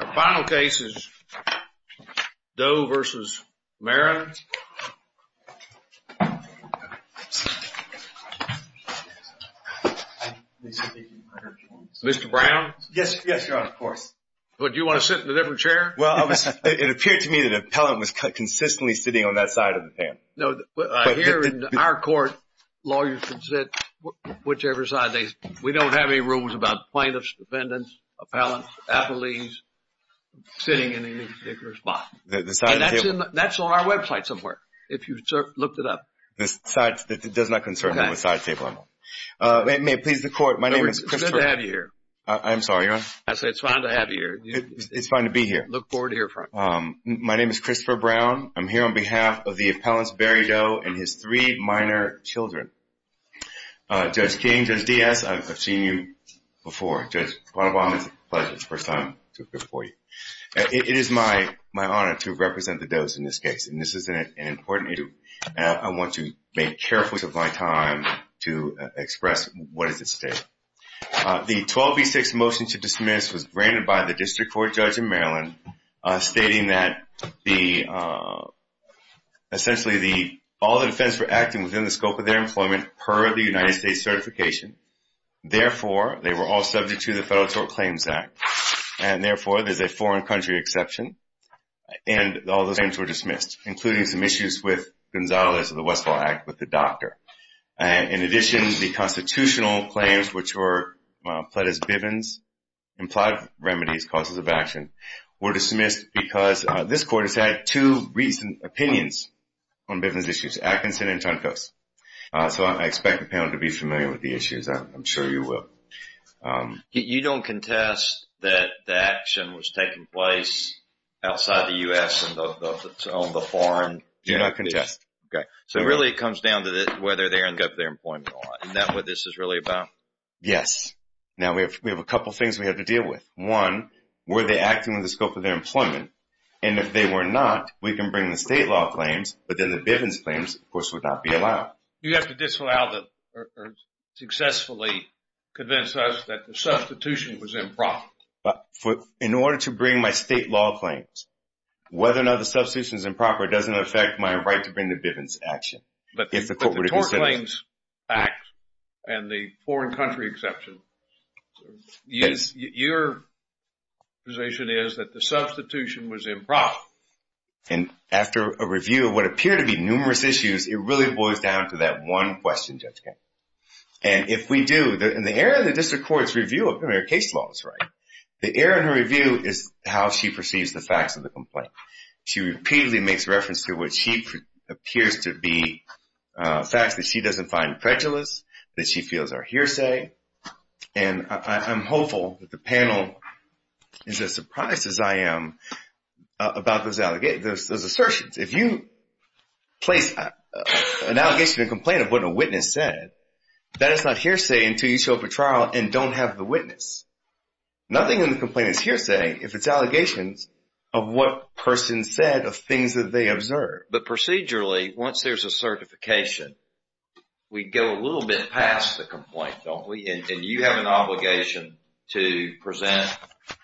The final case is Doe v. Meron. Mr. Brown? Yes, Your Honor, of course. But do you want to sit in a different chair? Well, it appeared to me that an appellant was consistently sitting on that side of the panel. No, here in our court, lawyers can sit whichever side. We don't have any rules about plaintiffs, defendants, appellants, appellees sitting in any particular spot. And that's on our website somewhere, if you looked it up. It does not concern me on the side table, I know. May it please the Court, my name is Christopher – It's good to have you here. I'm sorry, Your Honor? I said it's fine to have you here. It's fine to be here. I look forward to hearing from you. My name is Christopher Brown. I'm here on behalf of the appellant's Barry Doe and his three minor children. Judge King, Judge Diaz, I've seen you before. Judge Bonobon, it's a pleasure. It's the first time to appear before you. It is my honor to represent the Doe's in this case, and this is an important issue. I want to make careful use of my time to express what is at stake. The 12B6 motion to dismiss was granted by the District Court judge in Maryland, stating that essentially all the defendants were acting within the scope of their employment per the United States certification. Therefore, they were all subject to the Federal Tort Claims Act, and therefore there's a foreign country exception, and all those claims were dismissed, including some issues with Gonzales of the Westfall Act with the doctor. In addition, the constitutional claims, which were pled as bivens, implied remedies, causes of action, were dismissed because this court has had two recent opinions on bivens issues, Atkinson and Chunkos. So I expect the panel to be familiar with the issues. I'm sure you will. You don't contest that the action was taking place outside the U.S. on the foreign? Do not contest. Okay. So really it comes down to whether they earned up their employment or not. Is that what this is really about? Yes. Now, we have a couple things we have to deal with. One, were they acting within the scope of their employment? And if they were not, we can bring the state law claims, but then the bivens claims, of course, would not be allowed. You have to disallow or successfully convince us that the substitution was improper. In order to bring my state law claims, whether or not the substitution is improper doesn't affect my right to bring the bivens action. But the Tort Claims Act and the foreign country exception, your position is that the substitution was improper. And after a review of what appear to be numerous issues, it really boils down to that one question, Judge Kennedy. And if we do, in the area of the district court's review of case laws, right, the area of the review is how she perceives the facts of the complaint. She repeatedly makes reference to what she appears to be facts that she doesn't find prejudice, that she feels are hearsay. And I'm hopeful that the panel is as surprised as I am about those assertions. If you place an allegation or complaint of what a witness said, that is not hearsay until you show up at trial and don't have the witness. Nothing in the complaint is hearsay if it's allegations of what person said, of things that they observed. But procedurally, once there's a certification, we go a little bit past the complaint, don't we? And you have an obligation to present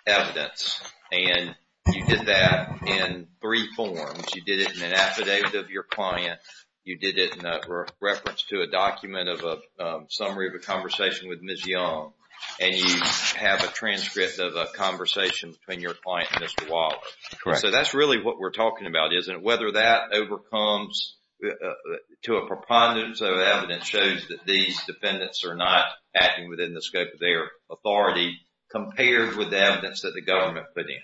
evidence. And you did that in three forms. You did it in an affidavit of your client. You did it in a reference to a document of a summary of a conversation with Ms. Young. And you have a transcript of a conversation between your client and Mr. Wallace. So that's really what we're talking about, isn't it? Whether that overcomes to a preponderance of evidence shows that these defendants are not acting within the scope of their authority compared with the evidence that the government put in.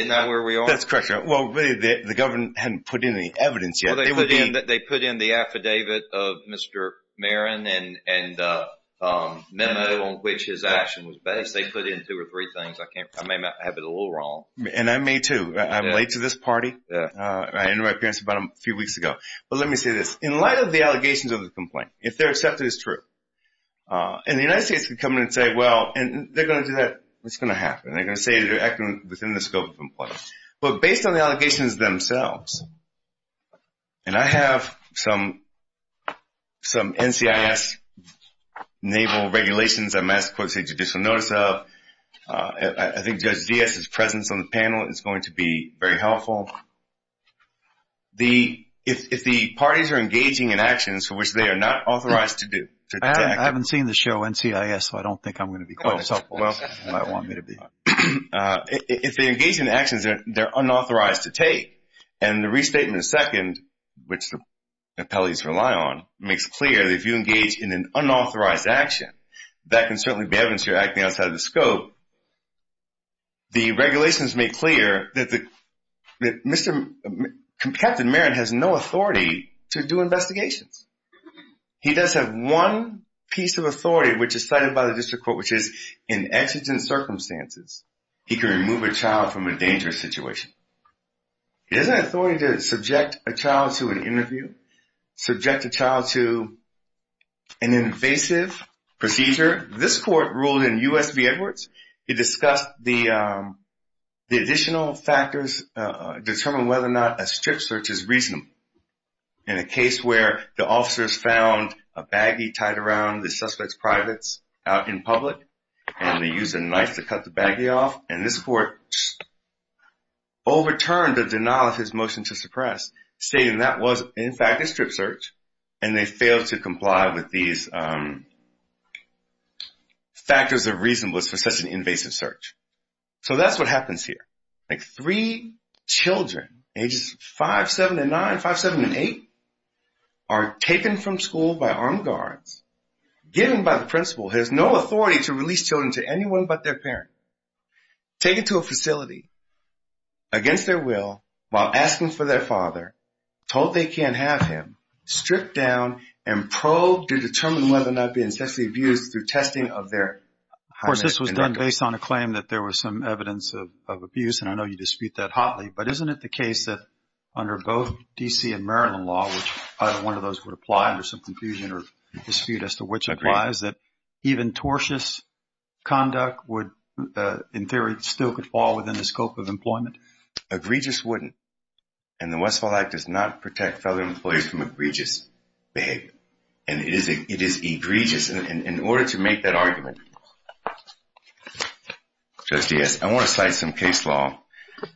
Isn't that where we are? That's correct, Your Honor. Well, the government hadn't put in any evidence yet. They put in the affidavit of Mr. Marin and memo on which his action was based. They put in two or three things. I may have it a little wrong. And I may, too. I'm late to this party. I ended my appearance about a few weeks ago. But let me say this. In light of the allegations of the complaint, if they're accepted as true, and the United States can come in and say, well, and they're going to do that. It's going to happen. They're going to say they're acting within the scope of the complaint. But based on the allegations themselves, and I have some NCIS naval regulations I'm asked for judicial notice of. I think Judge Diaz's presence on the panel is going to be very helpful. If the parties are engaging in actions for which they are not authorized to do. I haven't seen the show NCIS, so I don't think I'm going to be quite as helpful as you might want me to be. If they engage in actions that they're unauthorized to take, and the Restatement of Second, which the appellees rely on, makes clear that if you engage in an unauthorized action, that can certainly be evidence you're acting outside of the scope. The regulations make clear that Captain Marin has no authority to do investigations. He does have one piece of authority, which is cited by the district court, which is in exigent circumstances, he can remove a child from a dangerous situation. He doesn't have authority to subject a child to an interview, subject a child to an invasive procedure. This court ruled in U.S. v. Edwards, it discussed the additional factors determining whether or not a strip search is reasonable. In a case where the officers found a baggie tied around the suspect's privates out in public, and they used a knife to cut the baggie off, and this court overturned the denial of his motion to suppress, stating that was, in fact, a strip search, and they failed to comply with these factors of reasonableness for such an invasive search. So that's what happens here. Three children, ages 5, 7, and 9, 5, 7, and 8, are taken from school by armed guards, given by the principal who has no authority to release children to anyone but their parent, taken to a facility, against their will, while asking for their father, told they can't have him, stripped down, and probed to determine whether or not he had been sexually abused through testing of their... Of course, this was done based on a claim that there was some evidence of abuse, and I know you dispute that hotly, but isn't it the case that under both D.C. and Maryland law, which either one of those would apply under some confusion or dispute as to which applies, is that even tortious conduct would, in theory, still could fall within the scope of employment? Egregious wouldn't, and the Westfall Act does not protect fellow employees from egregious behavior, and it is egregious, and in order to make that argument, Judge Diaz, I want to cite some case law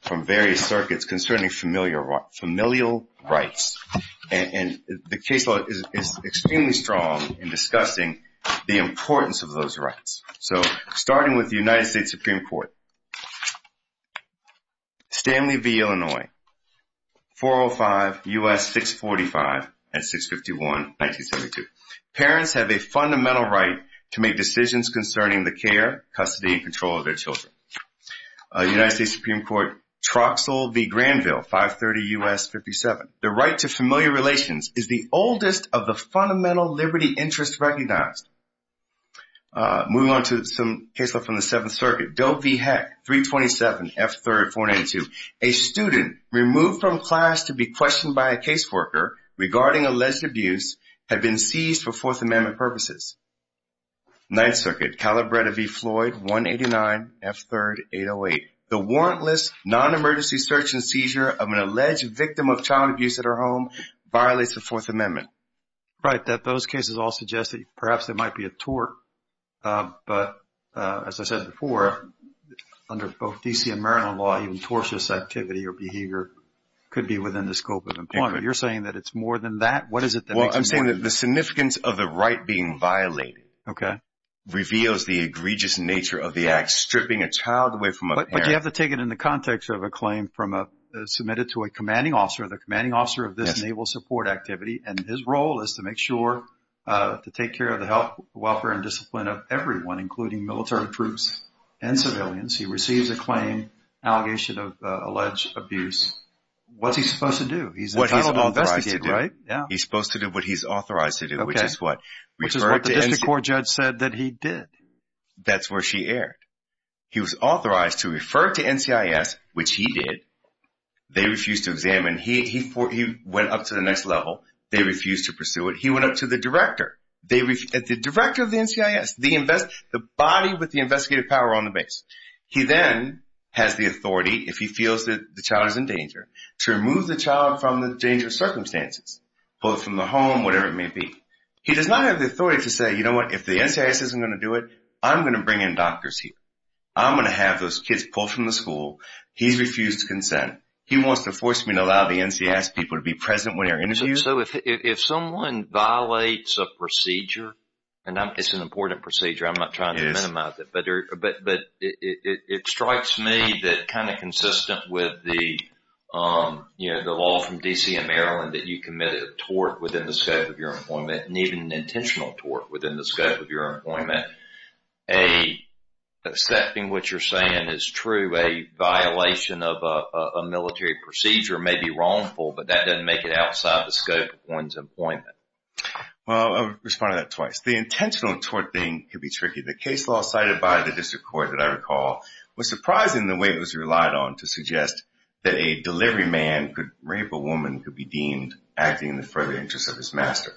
from various circuits concerning familial rights, and the case law is extremely strong in discussing the importance of those rights. So, starting with the United States Supreme Court, Stanley v. Illinois, 405 U.S. 645 and 651, 1972. Parents have a fundamental right to make decisions concerning the care, custody, and control of their children. United States Supreme Court, Troxell v. Granville, 530 U.S. 57. The right to familial relations is the oldest of the fundamental liberty interests recognized. Moving on to some case law from the Seventh Circuit, Doe v. Heck, 327 F. 3rd, 492. A student removed from class to be questioned by a case worker regarding alleged abuse had been seized for Fourth Amendment purposes. Ninth Circuit, Calabretta v. Floyd, 189 F. 3rd, 808. The warrantless non-emergency search and seizure of an alleged victim of child abuse at her home violates the Fourth Amendment. Right, those cases all suggest that perhaps there might be a tort, but as I said before, under both DC and Maryland law, even tortious activity or behavior could be within the scope of employment. You're saying that it's more than that? What is it that makes it more than that? I'm saying that the significance of the right being violated reveals the egregious nature of the act, stripping a child away from a parent. But you have to take it in the context of a claim submitted to a commanding officer, the commanding officer of this Naval support activity, and his role is to make sure to take care of the health, welfare, and discipline of everyone, including military troops and civilians. He receives a claim, allegation of alleged abuse. What's he supposed to do? He's entitled to investigate, right? He's supposed to do what he's authorized to do, which is what? Which is what the district court judge said that he did. That's where she erred. He was authorized to refer to NCIS, which he did. They refused to examine. He went up to the next level. They refused to pursue it. He went up to the director. The director of the NCIS, the body with the investigative power on the base. He then has the authority, if he feels that the child is in danger, to remove the child from the danger circumstances, both from the home, whatever it may be. He does not have the authority to say, you know what, if the NCIS isn't going to do it, I'm going to bring in doctors here. I'm going to have those kids pulled from the school. He's refused consent. He wants to force me to allow the NCIS people to be present when they're interviewed. So if someone violates a procedure, and it's an important procedure, I'm not trying to minimize it, but it strikes me that kind of consistent with the law from D.C. and Maryland that you commit a tort within the scope of your employment, and even an intentional tort within the scope of your employment, accepting what you're saying is true. A violation of a military procedure may be wrongful, but that doesn't make it outside the scope of one's employment. Well, I've responded to that twice. The intentional tort thing can be tricky. The case law cited by the district court that I recall was surprising the way it was relied on to suggest that a delivery man could rape a woman could be deemed acting in the further interest of his master.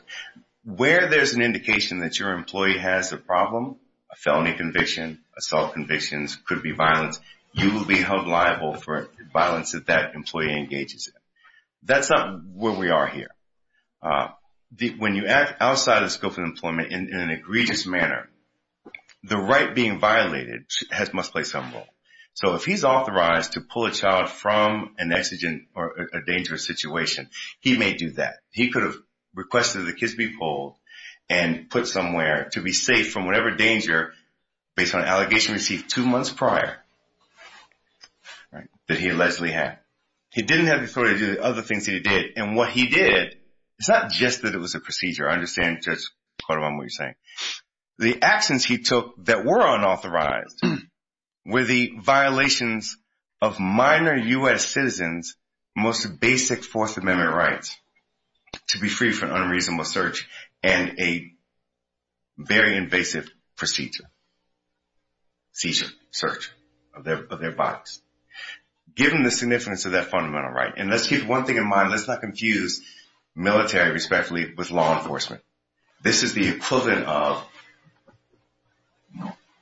Where there's an indication that your employee has a problem, a felony conviction, assault convictions, could be violence, you will be held liable for violence that that employee engages in. That's not where we are here. When you act outside the scope of employment in an egregious manner, the right being violated must play some role. So if he's authorized to pull a child from an exigent or a dangerous situation, he may do that. He could have requested that the kids be pulled and put somewhere to be safe from whatever danger, based on an allegation received two months prior that he allegedly had. He didn't have the authority to do the other things that he did. And what he did, it's not just that it was a procedure. I understand, Judge Quartermone, what you're saying. The actions he took that were unauthorized were the violations of minor U.S. citizens' most basic Fourth Amendment rights to be free from unreasonable search and a very invasive procedure, seizure, search of their bodies. Given the significance of that fundamental right. And let's keep one thing in mind. Let's not confuse military, respectfully, with law enforcement. This is the equivalent of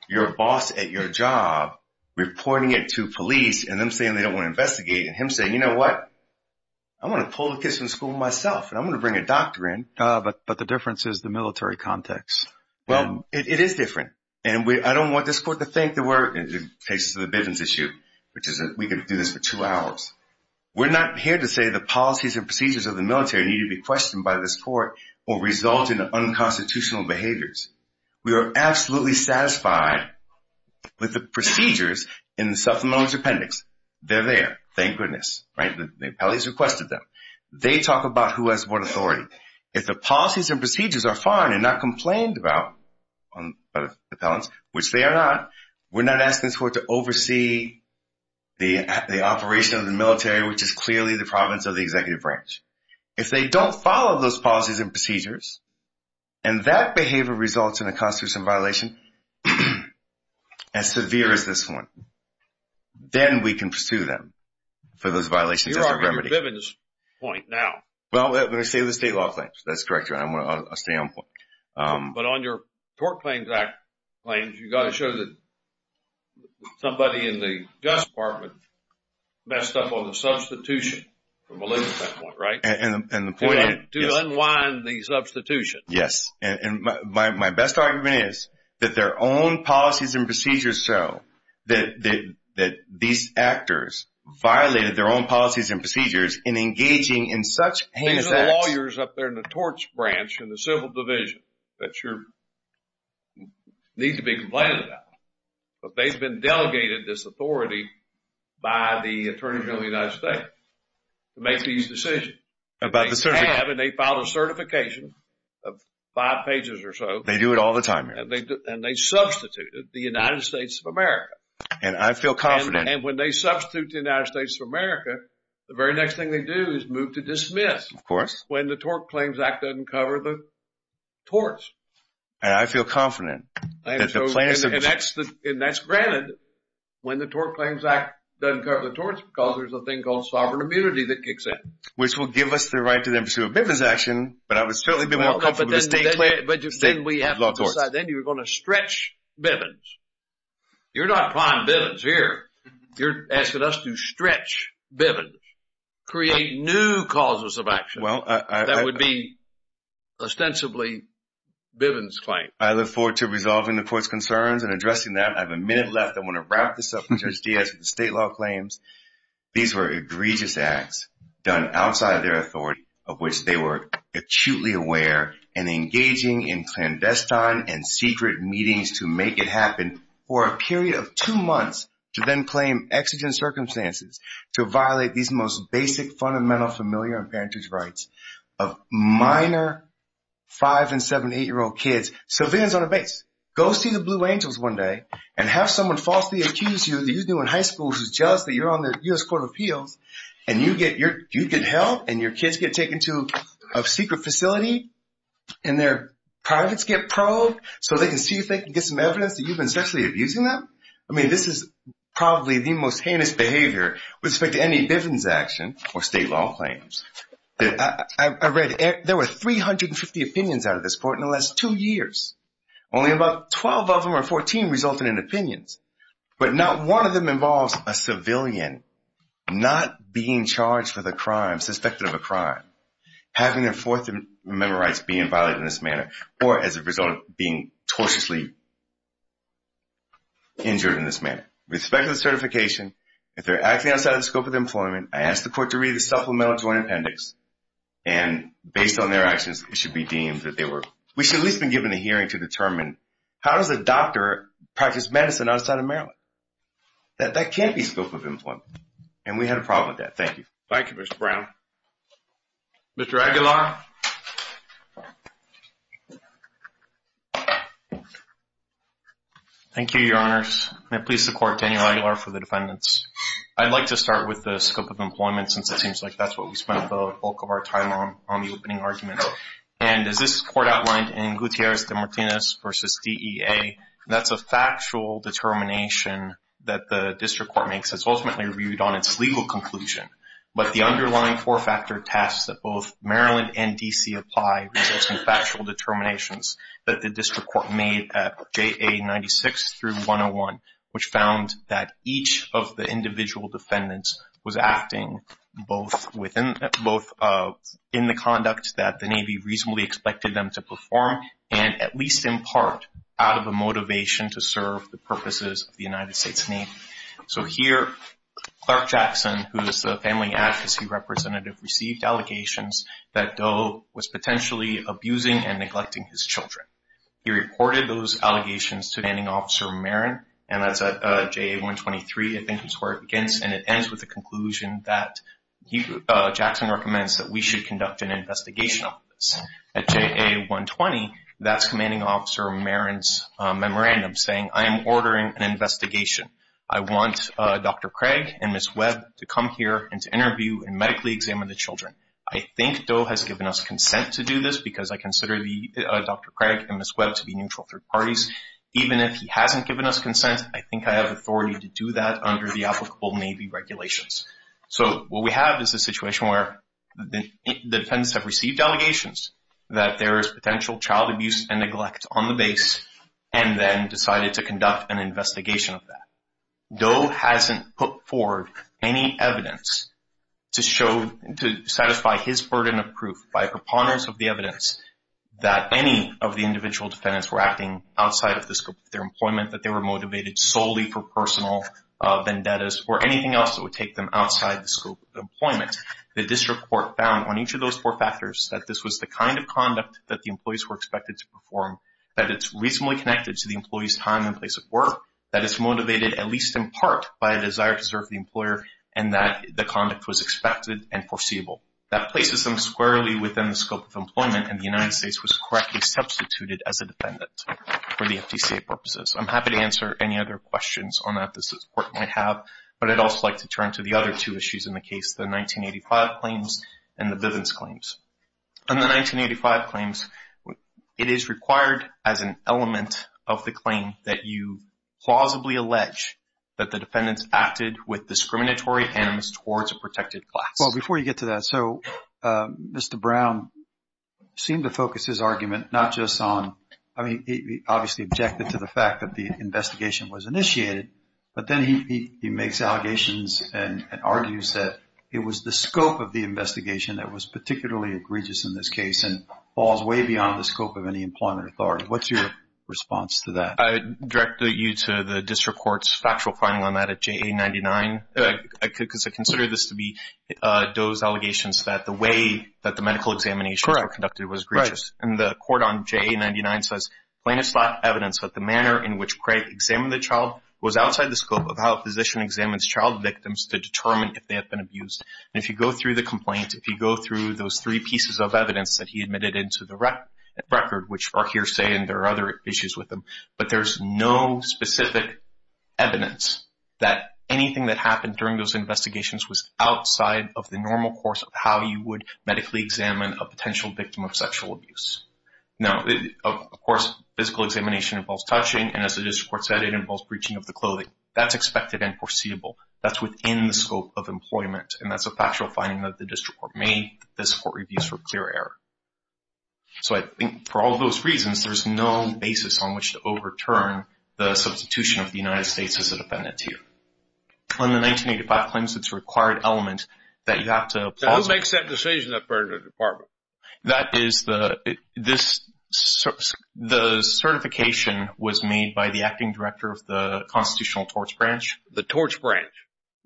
your boss at your job reporting it to police and them saying they don't want to investigate and him saying, you know what? I'm going to pull the kids from school myself and I'm going to bring a doctor in. But the difference is the military context. Well, it is different. And I don't want this court to think that we're, in the case of the Bivens issue, which is that we can do this for two hours. We're not here to say the policies and procedures of the military need to be questioned by this court or result in unconstitutional behaviors. We are absolutely satisfied with the procedures in the supplemental appendix. They're there. Thank goodness. Right? The appellate has requested them. They talk about who has what authority. If the policies and procedures are fine and not complained about by the appellants, which they are not, we're not asking this court to oversee the operation of the military, which is clearly the province of the executive branch. If they don't follow those policies and procedures and that behavior results in a constitutional violation as severe as this one, then we can pursue them for those violations as a remedy. You're arguing the Bivens point now. Well, let me say the state law claims. That's correct, Your Honor. I'll stay on point. But on your tort claims, you've got to show that somebody in the Justice Department messed up on the substitution, from a legal standpoint, right? And the point is? To unwind the substitution. Yes. And my best argument is that their own policies and procedures show that these actors violated their own policies and procedures in engaging in such heinous acts. These are the lawyers up there in the torts branch in the civil division that you need to be complaining about. But they've been delegated this authority by the Attorney General of the United States to make these decisions. About the certification. They have and they filed a certification of five pages or so. They do it all the time here. And they substituted the United States of America. And I feel confident. And when they substitute the United States of America, the very next thing they do is move to dismiss. Of course. When the Tort Claims Act doesn't cover the torts. And I feel confident. And that's granted. When the Tort Claims Act doesn't cover the torts, because there's a thing called sovereign immunity that kicks in. Which will give us the right to pursue a Bivens action, but I would certainly be more comfortable with state law torts. Then you're going to stretch Bivens. You're not applying Bivens here. You're asking us to stretch Bivens. Create new causes of action. That would be ostensibly Bivens claims. I look forward to resolving the court's concerns and addressing that. I have a minute left. I want to wrap this up, Judge Diaz, with the state law claims. These were egregious acts done outside of their authority, of which they were acutely aware. And engaging in clandestine and secret meetings to make it happen for a period of two months. To then claim exigent circumstances to violate these most basic, fundamental, familiar and parentage rights of minor 5 and 7, 8-year-old kids. So Bivens on a base. Go see the Blue Angels one day and have someone falsely accuse you that you knew in high school who's jealous that you're on the U.S. Court of Appeals. And you get held and your kids get taken to a secret facility. And their privates get probed so they can see if they can get some evidence that you've been sexually abusing them. I mean this is probably the most heinous behavior with respect to any Bivens action or state law claims. I read there were 350 opinions out of this court in the last two years. Only about 12 of them, or 14, resulted in opinions. But not one of them involves a civilian not being charged with a crime, suspected of a crime. Having their Fourth Amendment rights being violated in this manner, or as a result of being tortiously injured in this manner. With respect to the certification, if they're acting outside the scope of their employment, I ask the court to read the supplemental joint appendix. And based on their actions, it should be deemed that they were, we should at least have been given a hearing to determine, how does a doctor practice medicine outside of Maryland? That can't be scope of employment. And we had a problem with that. Thank you. Thank you, Mr. Brown. Mr. Aguilar. Thank you, Your Honors. May it please the court, Daniel Aguilar for the defendants. I'd like to start with the scope of employment, since it seems like that's what we spent the bulk of our time on, on the opening argument. And as this court outlined in Gutierrez de Martinez v. DEA, that's a factual determination that the district court makes. It's ultimately reviewed on its legal conclusion. But the underlying four-factor test that both Maryland and D.C. apply results in factual determinations that the district court made at JA 96 through 101. Which found that each of the individual defendants was acting both in the conduct that the Navy reasonably expected them to perform. And at least in part, out of a motivation to serve the purposes of the United States Navy. So here, Clark Jackson, who is the family advocacy representative, received allegations that Doe was potentially abusing and neglecting his children. He reported those allegations to Landing Officer Marin, and that's at JA 123, I think is where it begins. And it ends with the conclusion that Jackson recommends that we should conduct an investigation of this. At JA 120, that's Commanding Officer Marin's memorandum saying, I am ordering an investigation. I want Dr. Craig and Ms. Webb to come here and to interview and medically examine the children. I think Doe has given us consent to do this because I consider Dr. Craig and Ms. Webb to be neutral third parties. Even if he hasn't given us consent, I think I have authority to do that under the applicable Navy regulations. So what we have is a situation where the defendants have received allegations that there is potential child abuse and neglect on the base. And then decided to conduct an investigation of that. Doe hasn't put forward any evidence to satisfy his burden of proof by preponderance of the evidence that any of the individual defendants were acting outside of the scope of their employment, that they were motivated solely for personal vendettas or anything else that would take them outside the scope of employment. The district court found on each of those four factors that this was the kind of conduct that the employees were expected to perform, that it's reasonably connected to the employee's time and place of work, that it's motivated at least in part by a desire to serve the employer, and that the conduct was expected and foreseeable. That places them squarely within the scope of employment and the United States was correctly substituted as a defendant for the FDCA purposes. I'm happy to answer any other questions on that this court might have. But I'd also like to turn to the other two issues in the case, the 1985 claims and the Bivens claims. In the 1985 claims, it is required as an element of the claim that you plausibly allege that the defendants acted with discriminatory hands towards a protected class. Well, before you get to that, so Mr. Brown seemed to focus his argument not just on, I mean, he obviously objected to the fact that the investigation was initiated, but then he makes allegations and argues that it was the scope of the investigation that was particularly egregious in this case and falls way beyond the scope of any employment authority. What's your response to that? I would direct you to the district court's factual finding on that at JA99, because I consider this to be those allegations that the way that the medical examinations were conducted was egregious. And the court on JA99 says plain as flat evidence that the manner in which Craig examined the child was outside the scope of how a physician examines child victims to determine if they have been abused. And if you go through the complaint, if you go through those three pieces of evidence that he admitted into the record, which are hearsay and there are other issues with them, but there's no specific evidence that anything that happened during those investigations was outside of the normal course of how you would medically examine a potential victim of sexual abuse. Now, of course, physical examination involves touching, and as the district court said, it involves breaching of the clothing. That's expected and foreseeable. That's within the scope of employment, and that's a factual finding that the district court made. The district court reviews for clear error. So I think for all those reasons, there's no basis on which to overturn the substitution of the United States as a defendant here. In the 1985 claims, it's a required element that you have to applaud. Who makes that decision in the department? That is the certification was made by the acting director of the constitutional torts branch. The torts branch?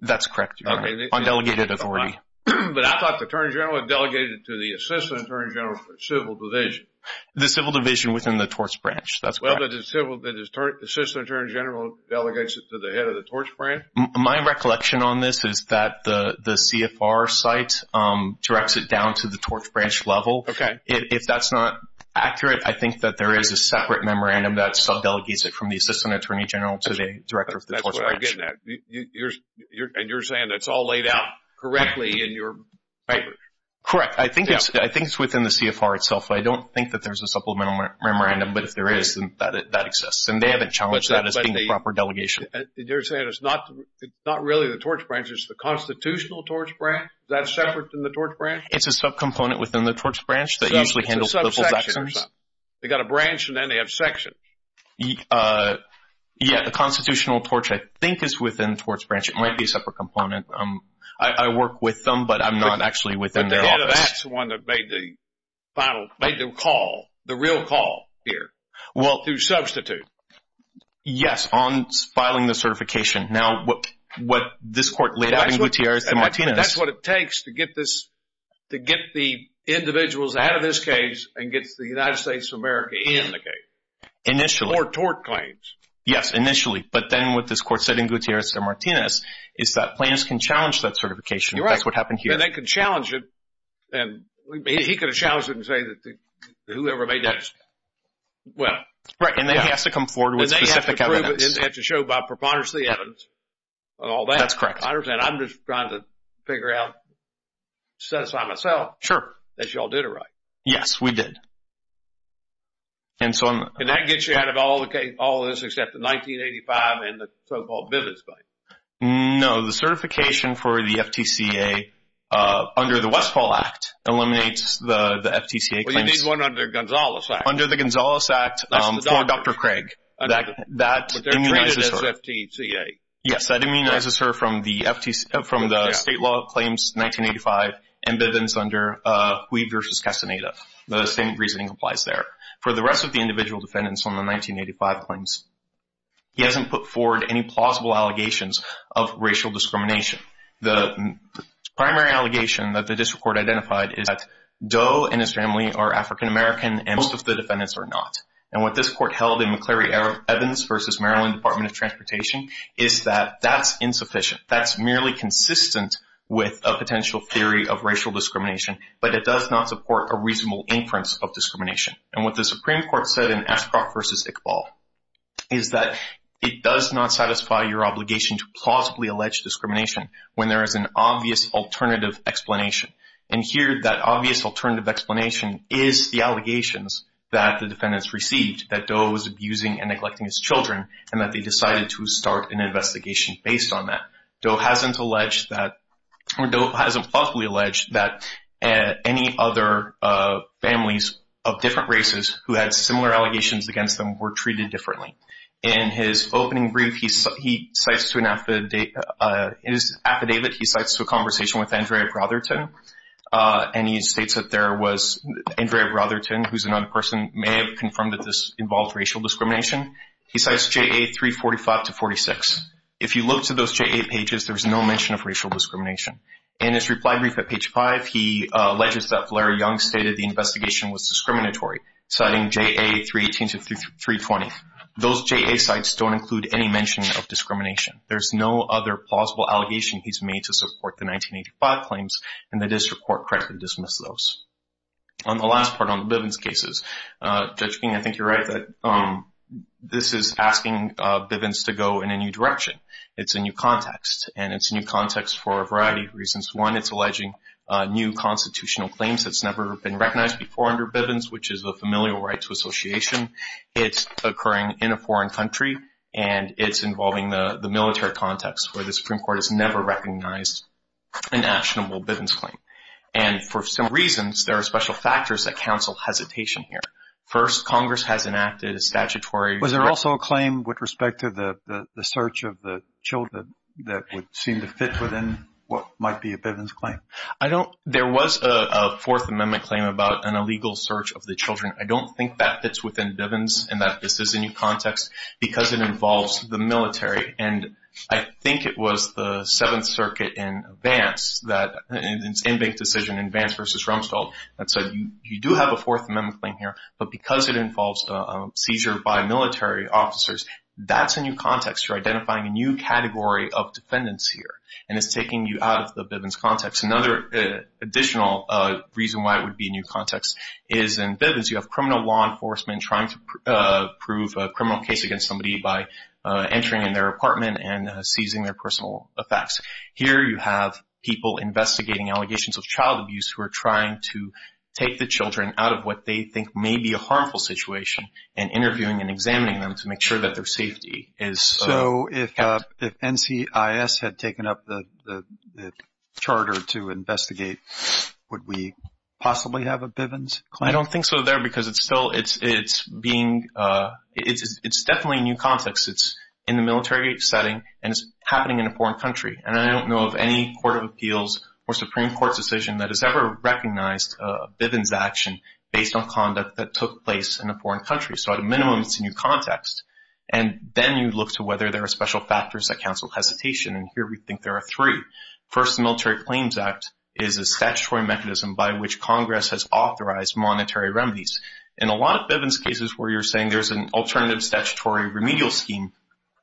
That's correct. On delegated authority. But I thought the attorney general delegated it to the assistant attorney general for civil division. The civil division within the torts branch, that's correct. The assistant attorney general delegates it to the head of the torts branch? My recollection on this is that the CFR site directs it down to the torts branch level. Okay. If that's not accurate, I think that there is a separate memorandum that sub-delegates it from the assistant attorney general to the director of the torts branch. That's what I'm getting at. And you're saying that's all laid out correctly in your papers? Correct. I think it's within the CFR itself. I don't think that there's a supplemental memorandum, but if there is, then that exists. And they haven't challenged that as being a proper delegation. You're saying it's not really the torts branch, it's the constitutional torts branch? Is that separate from the torts branch? It's a sub-component within the torts branch that usually handles political actions. It's a sub-section or something. They've got a branch and then they have sections. Yeah, the constitutional torts, I think, is within the torts branch. It might be a separate component. I work with them, but I'm not actually within their office. That's the one that made the call, the real call here to substitute. Yes, on filing the certification. Now, what this court laid out in Gutierrez de Martínez. That's what it takes to get the individuals out of this case and gets the United States of America in the case. Initially. For tort claims. Yes, initially. But then what this court said in Gutierrez de Martínez is that plaintiffs can challenge that certification. That's what happened here. And they can challenge it. And he could have challenged it and said that whoever made that decision. Well. Right, and then he has to come forward with specific evidence. And they have to prove it and they have to show by preponderance of the evidence and all that. That's correct. I understand. I'm just trying to figure out, set aside myself. Sure. That you all did it right. Yes, we did. And so I'm. And that gets you out of all this except the 1985 and the so-called Bivis bite. No, the certification for the FTCA under the Westfall Act eliminates the FTCA. Well, you need one under Gonzales Act. Under the Gonzales Act for Dr. Craig. That immunizes her. But they're treated as FTCA. Yes, that immunizes her from the state law claims 1985 and Bivis under Huy versus Castaneda. The same reasoning applies there. For the rest of the individual defendants on the 1985 claims, he hasn't put forward any plausible allegations of racial discrimination. The primary allegation that the district court identified is that Doe and his family are African-American and most of the defendants are not. And what this court held in McCleary-Evans versus Maryland Department of Transportation is that that's insufficient. That's merely consistent with a potential theory of racial discrimination. But it does not support a reasonable inference of discrimination. And what the Supreme Court said in Ashcroft versus Iqbal is that it does not satisfy your obligation to plausibly allege discrimination when there is an obvious alternative explanation. And here that obvious alternative explanation is the allegations that the defendants received that Doe was abusing and neglecting his children and that they decided to start an investigation based on that. Doe hasn't alleged that – or Doe hasn't plausibly alleged that any other families of different races who had similar allegations against them were treated differently. In his opening brief, he cites to an – in his affidavit, he cites a conversation with Andrea Brotherton. And he states that there was Andrea Brotherton, who's another person, may have confirmed that this involved racial discrimination. He cites JA 345 to 46. If you look to those JA pages, there's no mention of racial discrimination. In his reply brief at page 5, he alleges that Valerie Young stated the investigation was discriminatory, citing JA 318 to 320. Those JA sites don't include any mention of discrimination. There's no other plausible allegation he's made to support the 1985 claims, and the district court correctly dismissed those. On the last part, on the Bivens cases, Judge King, I think you're right that this is asking Bivens to go in a new direction. It's a new context, and it's a new context for a variety of reasons. One, it's alleging new constitutional claims that's never been recognized before under Bivens, which is the Familial Rights Association. It's occurring in a foreign country, and it's involving the military context where the Supreme Court has never recognized an actionable Bivens claim. And for some reasons, there are special factors that counsel hesitation here. First, Congress has enacted a statutory – Was there also a claim with respect to the search of the children that would seem to fit within what might be a Bivens claim? I don't – there was a Fourth Amendment claim about an illegal search of the children. I don't think that fits within Bivens and that this is a new context because it involves the military. And I think it was the Seventh Circuit in advance that – in its in-bank decision in advance versus Rumsfeld that said, you do have a Fourth Amendment claim here, but because it involves a seizure by military officers, that's a new context. You're identifying a new category of defendants here, and it's taking you out of the Bivens context. Another additional reason why it would be a new context is in Bivens, you have criminal law enforcement trying to prove a criminal case against somebody by entering in their apartment and seizing their personal effects. Here, you have people investigating allegations of child abuse who are trying to take the children out of what they think may be a harmful situation and interviewing and examining them to make sure that their safety is – So, if NCIS had taken up the charter to investigate, would we possibly have a Bivens claim? I don't think so there because it's still – it's being – it's definitely a new context. It's in the military setting and it's happening in a foreign country. And I don't know of any Court of Appeals or Supreme Court decision that has ever recognized a Bivens action based on conduct that took place in a foreign country. So, at a minimum, it's a new context. And then you look to whether there are special factors that counsel hesitation, and here we think there are three. First, the Military Claims Act is a statutory mechanism by which Congress has authorized monetary remedies. In a lot of Bivens cases where you're saying there's an alternative statutory remedial scheme,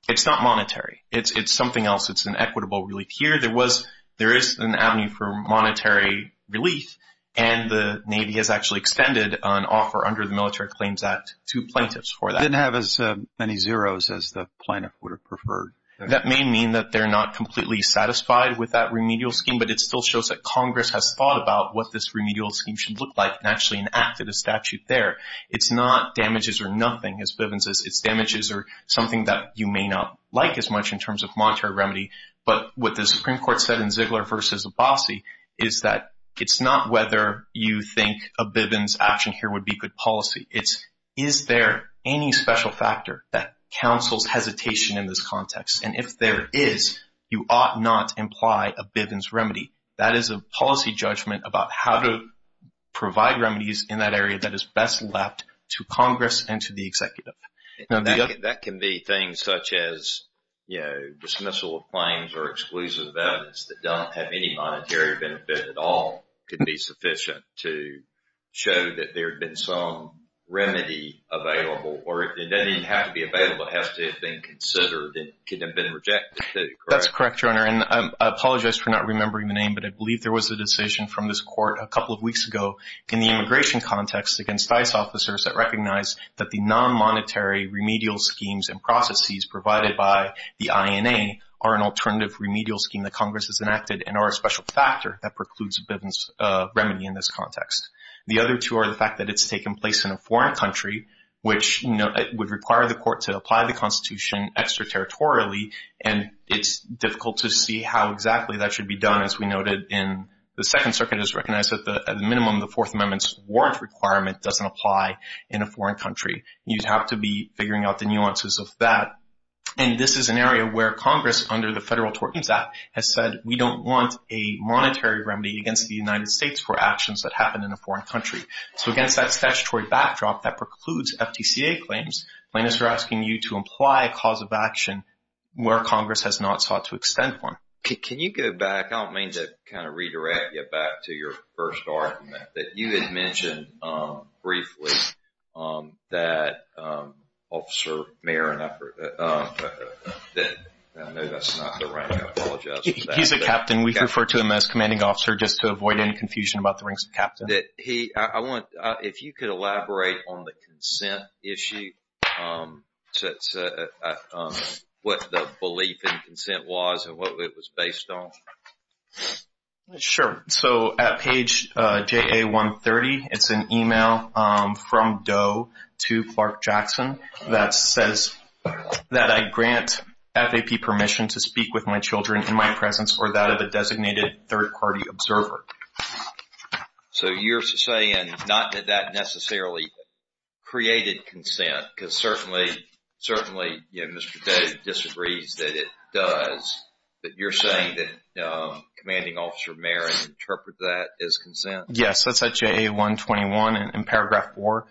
it's not monetary. It's something else. It's an equitable relief. Here, there was – there is an avenue for monetary relief and the Navy has actually extended an offer under the Military Claims Act to plaintiffs for that. They didn't have as many zeros as the plaintiff would have preferred. That may mean that they're not completely satisfied with that remedial scheme, but it still shows that Congress has thought about what this remedial scheme should look like and actually enacted a statute there. It's not damages or nothing, as Bivens says. It's damages or something that you may not like as much in terms of monetary remedy. But what the Supreme Court said in Ziegler v. Abbasi is that it's not whether you think a Bivens action here would be good policy. It's is there any special factor that counsels hesitation in this context? And if there is, you ought not imply a Bivens remedy. That is a policy judgment about how to provide remedies in that area that is best left to Congress and to the executive. Now, that can be things such as, you know, dismissal of claims or exclusive evidence that don't have any monetary benefit at all could be sufficient to show that there had been some remedy available. Or it doesn't have to be available. It has to have been considered and could have been rejected. That's correct, Your Honor. And I apologize for not remembering the name, but I believe there was a decision from this court a couple of weeks ago in the immigration context against ICE officers that recognized that the non-monetary remedial schemes and processes provided by the INA are an alternative remedial scheme that Congress has enacted and are a special factor that precludes a Bivens remedy in this context. The other two are the fact that it's taken place in a foreign country, which would require the court to apply the Constitution extraterritorially, and it's difficult to see how exactly that should be done as we noted in the Second Circuit has recognized that at the minimum the Fourth Amendment's warrant requirement doesn't apply in a foreign country. You'd have to be figuring out the nuances of that. And this is an area where Congress, under the federal tortins act, has said we don't want a monetary remedy against the United States for actions that happen in a foreign country. So, against that statutory backdrop that precludes FTCA claims, plaintiffs are asking you to imply a cause of action where Congress has not sought to extend one. Can you go back? I don't mean to kind of redirect you back to your first argument that you had mentioned briefly that officer, mayor, and I know that's not the right, I apologize. He's a captain. We refer to him as commanding officer just to avoid any confusion about the ranks of captain. I want, if you could elaborate on the consent issue, what the belief in consent was and what it was based on. Sure. So, at page JA-130, it's an email from Doe to Clark Jackson that says, that I grant FAP permission to speak with my children in my presence or that of a designated third-party observer. So, you're saying not that that necessarily created consent, because certainly Mr. Doe disagrees that it does. But you're saying that commanding officer, mayor, interprets that as consent. Yes, that's at JA-121 in paragraph 4.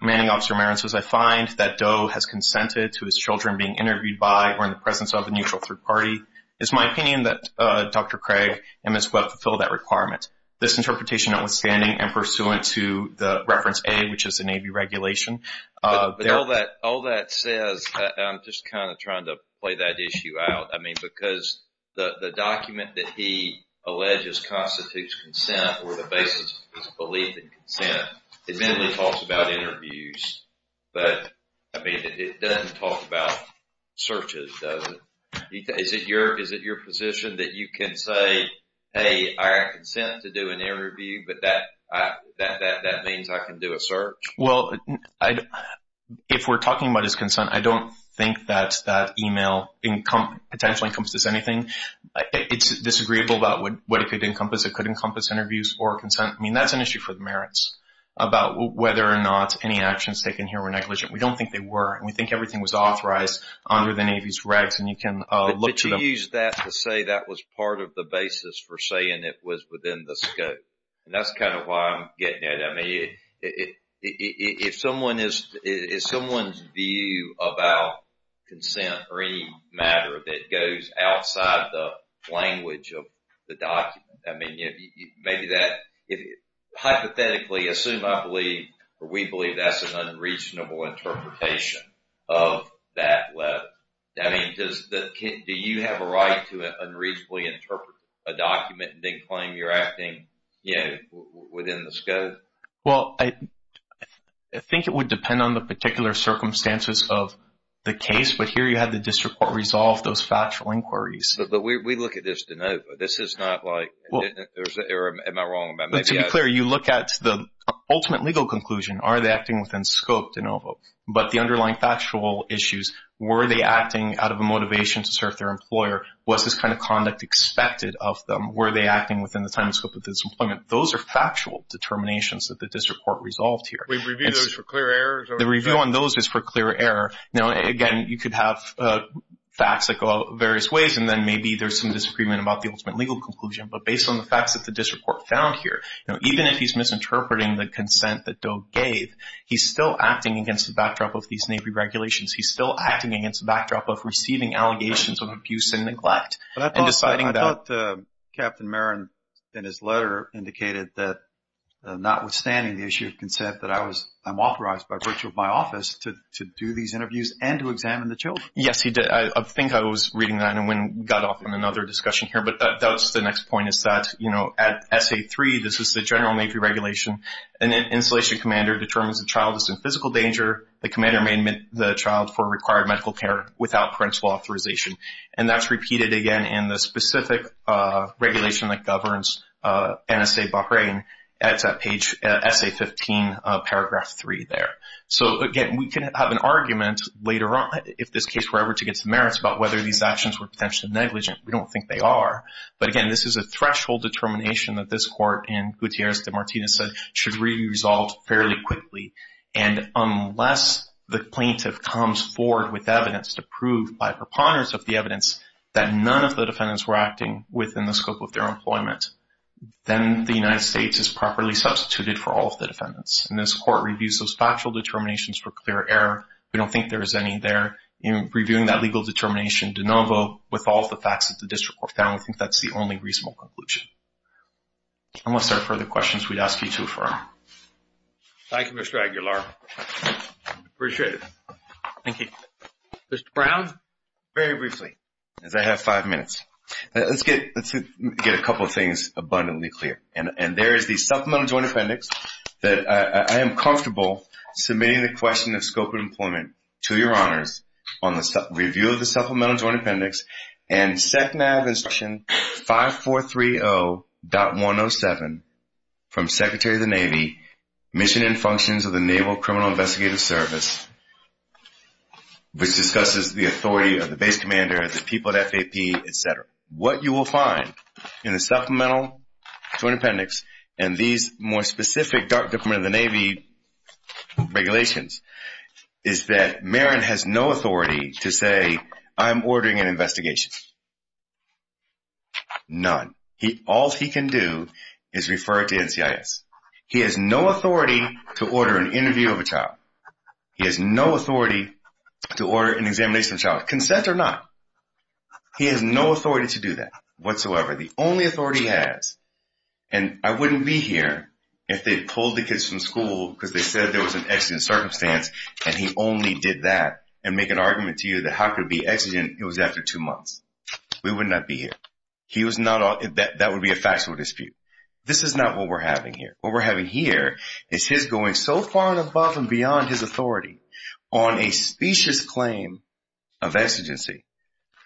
Commanding officer, mayor, says I find that Doe has consented to his children being interviewed by or in the presence of a neutral third-party. It's my opinion that Dr. Craig and Ms. Webb fulfilled that requirement. This interpretation notwithstanding and pursuant to the reference A, which is the Navy regulation. All that says, I'm just kind of trying to play that issue out. I mean, because the document that he alleges constitutes consent or the basis of his belief in consent, admittedly talks about interviews. But, I mean, it doesn't talk about searches, does it? Is it your position that you can say, hey, I consent to do an interview, but that means I can do a search? Well, if we're talking about his consent, I don't think that that email potentially encompasses anything. It's disagreeable about what it could encompass. It could encompass interviews or consent. I mean, that's an issue for the merits about whether or not any actions taken here were negligent. We don't think they were. We think everything was authorized under the Navy's regs, and you can look to them. Did you use that to say that was part of the basis for saying it was within the scope? That's kind of why I'm getting at it. I mean, if someone's view about consent or any matter that goes outside the language of the document, I mean, hypothetically, assume I believe or we believe that's an unreasonable interpretation of that letter. I mean, do you have a right to unreasonably interpret a document and then claim you're acting within the scope? Well, I think it would depend on the particular circumstances of the case, but here you have the district court resolve those factual inquiries. But we look at this de novo. This is not like, am I wrong? To be clear, you look at the ultimate legal conclusion. Are they acting within scope de novo? But the underlying factual issues, were they acting out of a motivation to serve their employer? Was this kind of conduct expected of them? Were they acting within the time scope of this employment? Those are factual determinations that the district court resolved here. We review those for clear errors? The review on those is for clear error. Now, again, you could have facts that go out various ways, and then maybe there's some disagreement about the ultimate legal conclusion. But based on the facts that the district court found here, even if he's misinterpreting the consent that Doe gave, he's still acting against the backdrop of these Navy regulations. He's still acting against the backdrop of receiving allegations of abuse and neglect and deciding that. But Captain Marin, in his letter, indicated that notwithstanding the issue of consent, that I'm authorized by virtue of my office to do these interviews and to examine the children. Yes, he did. I think I was reading that when we got off on another discussion here. But that's the next point is that, you know, at SA3, this is the general Navy regulation. An installation commander determines a child is in physical danger. The commander may admit the child for required medical care without parental authorization. And that's repeated, again, in the specific regulation that governs NSA Bahrain. It's at page SA15, paragraph 3 there. So, again, we can have an argument later on, if this case were ever to get to merits, about whether these actions were potentially negligent. We don't think they are. But, again, this is a threshold determination that this court in Gutierrez de Martinez said should re-resolve fairly quickly. And unless the plaintiff comes forward with evidence to prove by preponderance of the evidence that none of the defendants were acting within the scope of their employment, then the United States is properly substituted for all of the defendants. And this court reviews those factual determinations for clear error. We don't think there is any there. Reviewing that legal determination de novo with all of the facts that the district court found, we think that's the only reasonable conclusion. Unless there are further questions, we'd ask you to affirm. Thank you, Mr. Aguilar. Appreciate it. Thank you. Mr. Brown? Very briefly, as I have five minutes, let's get a couple of things abundantly clear. And there is the supplemental joint appendix that I am comfortable submitting the question of scope of employment to your honors on the review of the supplemental joint appendix and SECMAV instruction 5430.107 from Secretary of the Navy, Mission and Functions of the Naval Criminal Investigative Service, which discusses the authority of the base commander, the people at FAP, et cetera. What you will find in the supplemental joint appendix and these more specific Dark Department of the Navy regulations is that Marin has no authority to say, I'm ordering an investigation. None. All he can do is refer it to NCIS. He has no authority to order an interview of a child. He has no authority to order an examination of a child, consent or not. He has no authority to do that whatsoever. The only authority he has, and I wouldn't be here if they pulled the kids from school because they said there was an exigent circumstance and he only did that and make an argument to you that how could it be exigent, it was after two months. We would not be here. That would be a factual dispute. This is not what we're having here. What we're having here is his going so far and above and beyond his authority on a specious claim of exigency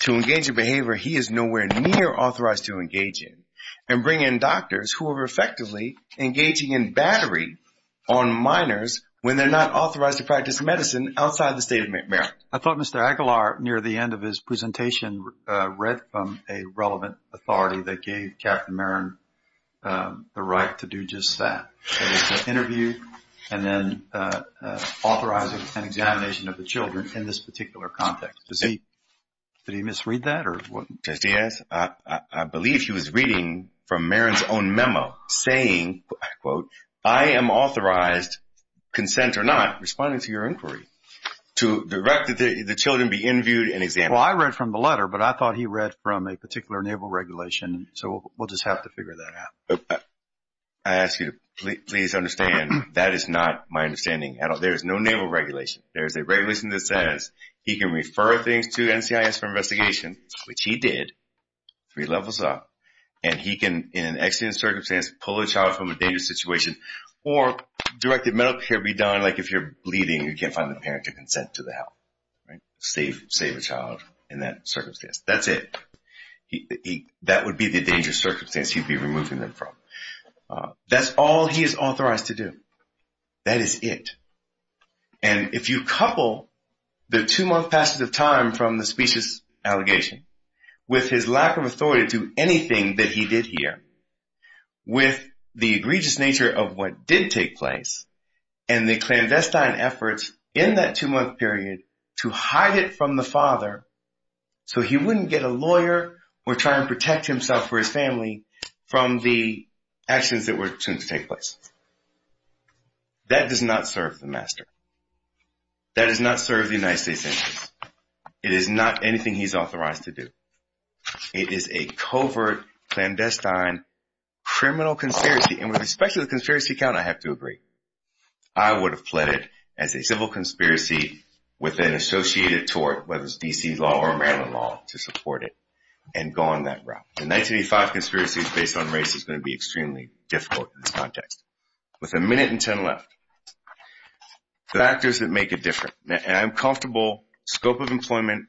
to engage in behavior he is nowhere near authorized to engage in and bring in doctors who are effectively engaging in battery on minors when they're not authorized to practice medicine outside the state of Maryland. I thought Mr. Aguilar near the end of his presentation read from a relevant authority that gave Captain Marin the right to do just that, that is to interview and then authorize an examination of the children in this particular context. Did he misread that? Yes, I believe he was reading from Marin's own memo saying, I quote, I am authorized, consent or not, responding to your inquiry, to direct the children to be interviewed and examined. Well, I read from the letter, but I thought he read from a particular naval regulation, so we'll just have to figure that out. I ask you to please understand that is not my understanding at all. There is no naval regulation. There is a regulation that says he can refer things to NCIS for investigation, which he did, three levels up, and he can in an accident circumstance pull a child from a dangerous situation or direct a medical care be done like if you're bleeding and you can't find the parent to consent to the help, right, save a child in that circumstance. That's it. That would be the dangerous circumstance he'd be removing them from. That's all he is authorized to do. That is it. And if you couple the two-month passage of time from the specious allegation with his lack of authority to do anything that he did here, with the egregious nature of what did take place, and the clandestine efforts in that two-month period to hide it from the father so he wouldn't get a lawyer or try and protect himself or his family from the actions that were to take place, that does not serve the master. That does not serve the United States sentence. It is not anything he's authorized to do. It is a covert, clandestine, criminal conspiracy, and with respect to the conspiracy count, I have to agree. I would have pled it as a civil conspiracy with an associated tort, whether it's D.C. law or Maryland law, to support it and go on that route. The 1985 conspiracy is based on race. It's going to be extremely difficult in this context. With a minute and ten left, the factors that make it different, and I'm comfortable, scope of employment,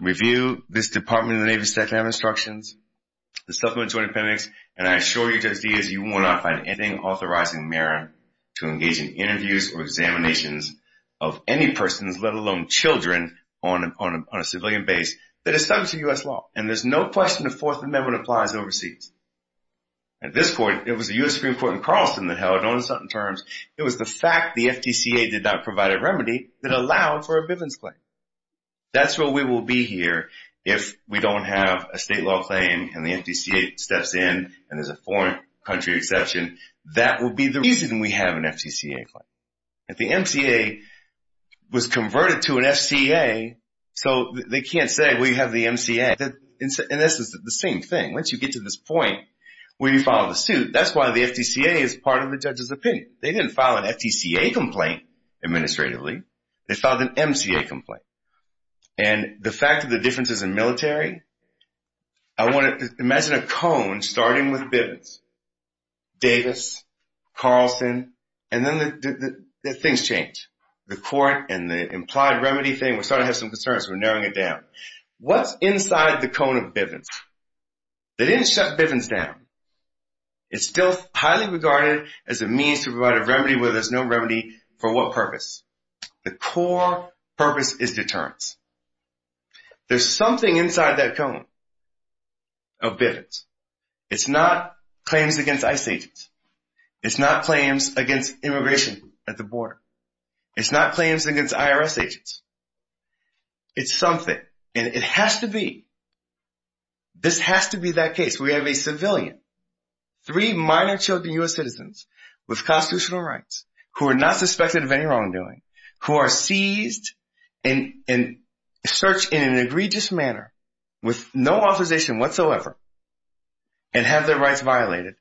review this Department of the Navy's State of the Army Instructions, the Supplementary Joint Appendix, and I assure you, Judge Diaz, you will not find anything authorizing Maryland to engage in interviews or examinations of any persons, let alone children, on a civilian base that is subject to U.S. law. And there's no question the Fourth Amendment applies overseas. At this point, it was a U.S. Supreme Court in Carlson that held on certain terms. It was the fact the FTCA did not provide a remedy that allowed for a Bivens claim. That's where we will be here if we don't have a state law claim and the FTCA steps in and there's a foreign country exception. That would be the reason we have an FTCA claim. If the MCA was converted to an FCA, so they can't say we have the MCA. And this is the same thing. Once you get to this point where you follow the suit, that's why the FTCA is part of the judge's opinion. They didn't file an FTCA complaint administratively. They filed an MCA complaint. And the fact that the difference is in military, I want to imagine a cone starting with Bivens, Davis, Carlson, and then things change. The court and the implied remedy thing, we're starting to have some concerns. We're narrowing it down. What's inside the cone of Bivens? They didn't shut Bivens down. It's still highly regarded as a means to provide a remedy where there's no remedy for what purpose? The core purpose is deterrence. There's something inside that cone of Bivens. It's not claims against ICE agents. It's not claims against immigration at the border. It's not claims against IRS agents. It's something, and it has to be. This has to be that case. We have a civilian, three minor children U.S. citizens with constitutional rights who are not suspected of any wrongdoing, who are seized and searched in an egregious manner with no authorization whatsoever and have their rights violated,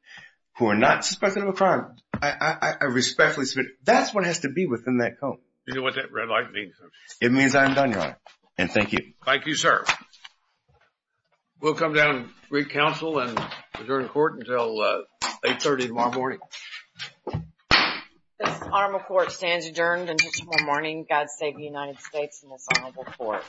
who are not suspected of a crime. I respectfully submit, that's what has to be within that cone. You know what that red light means? It means I'm done, Your Honor, and thank you. Thank you, sir. We'll come down and read counsel and adjourn the court until 8.30 tomorrow morning. This arm of court stands adjourned until tomorrow morning. God save the United States and this honorable court.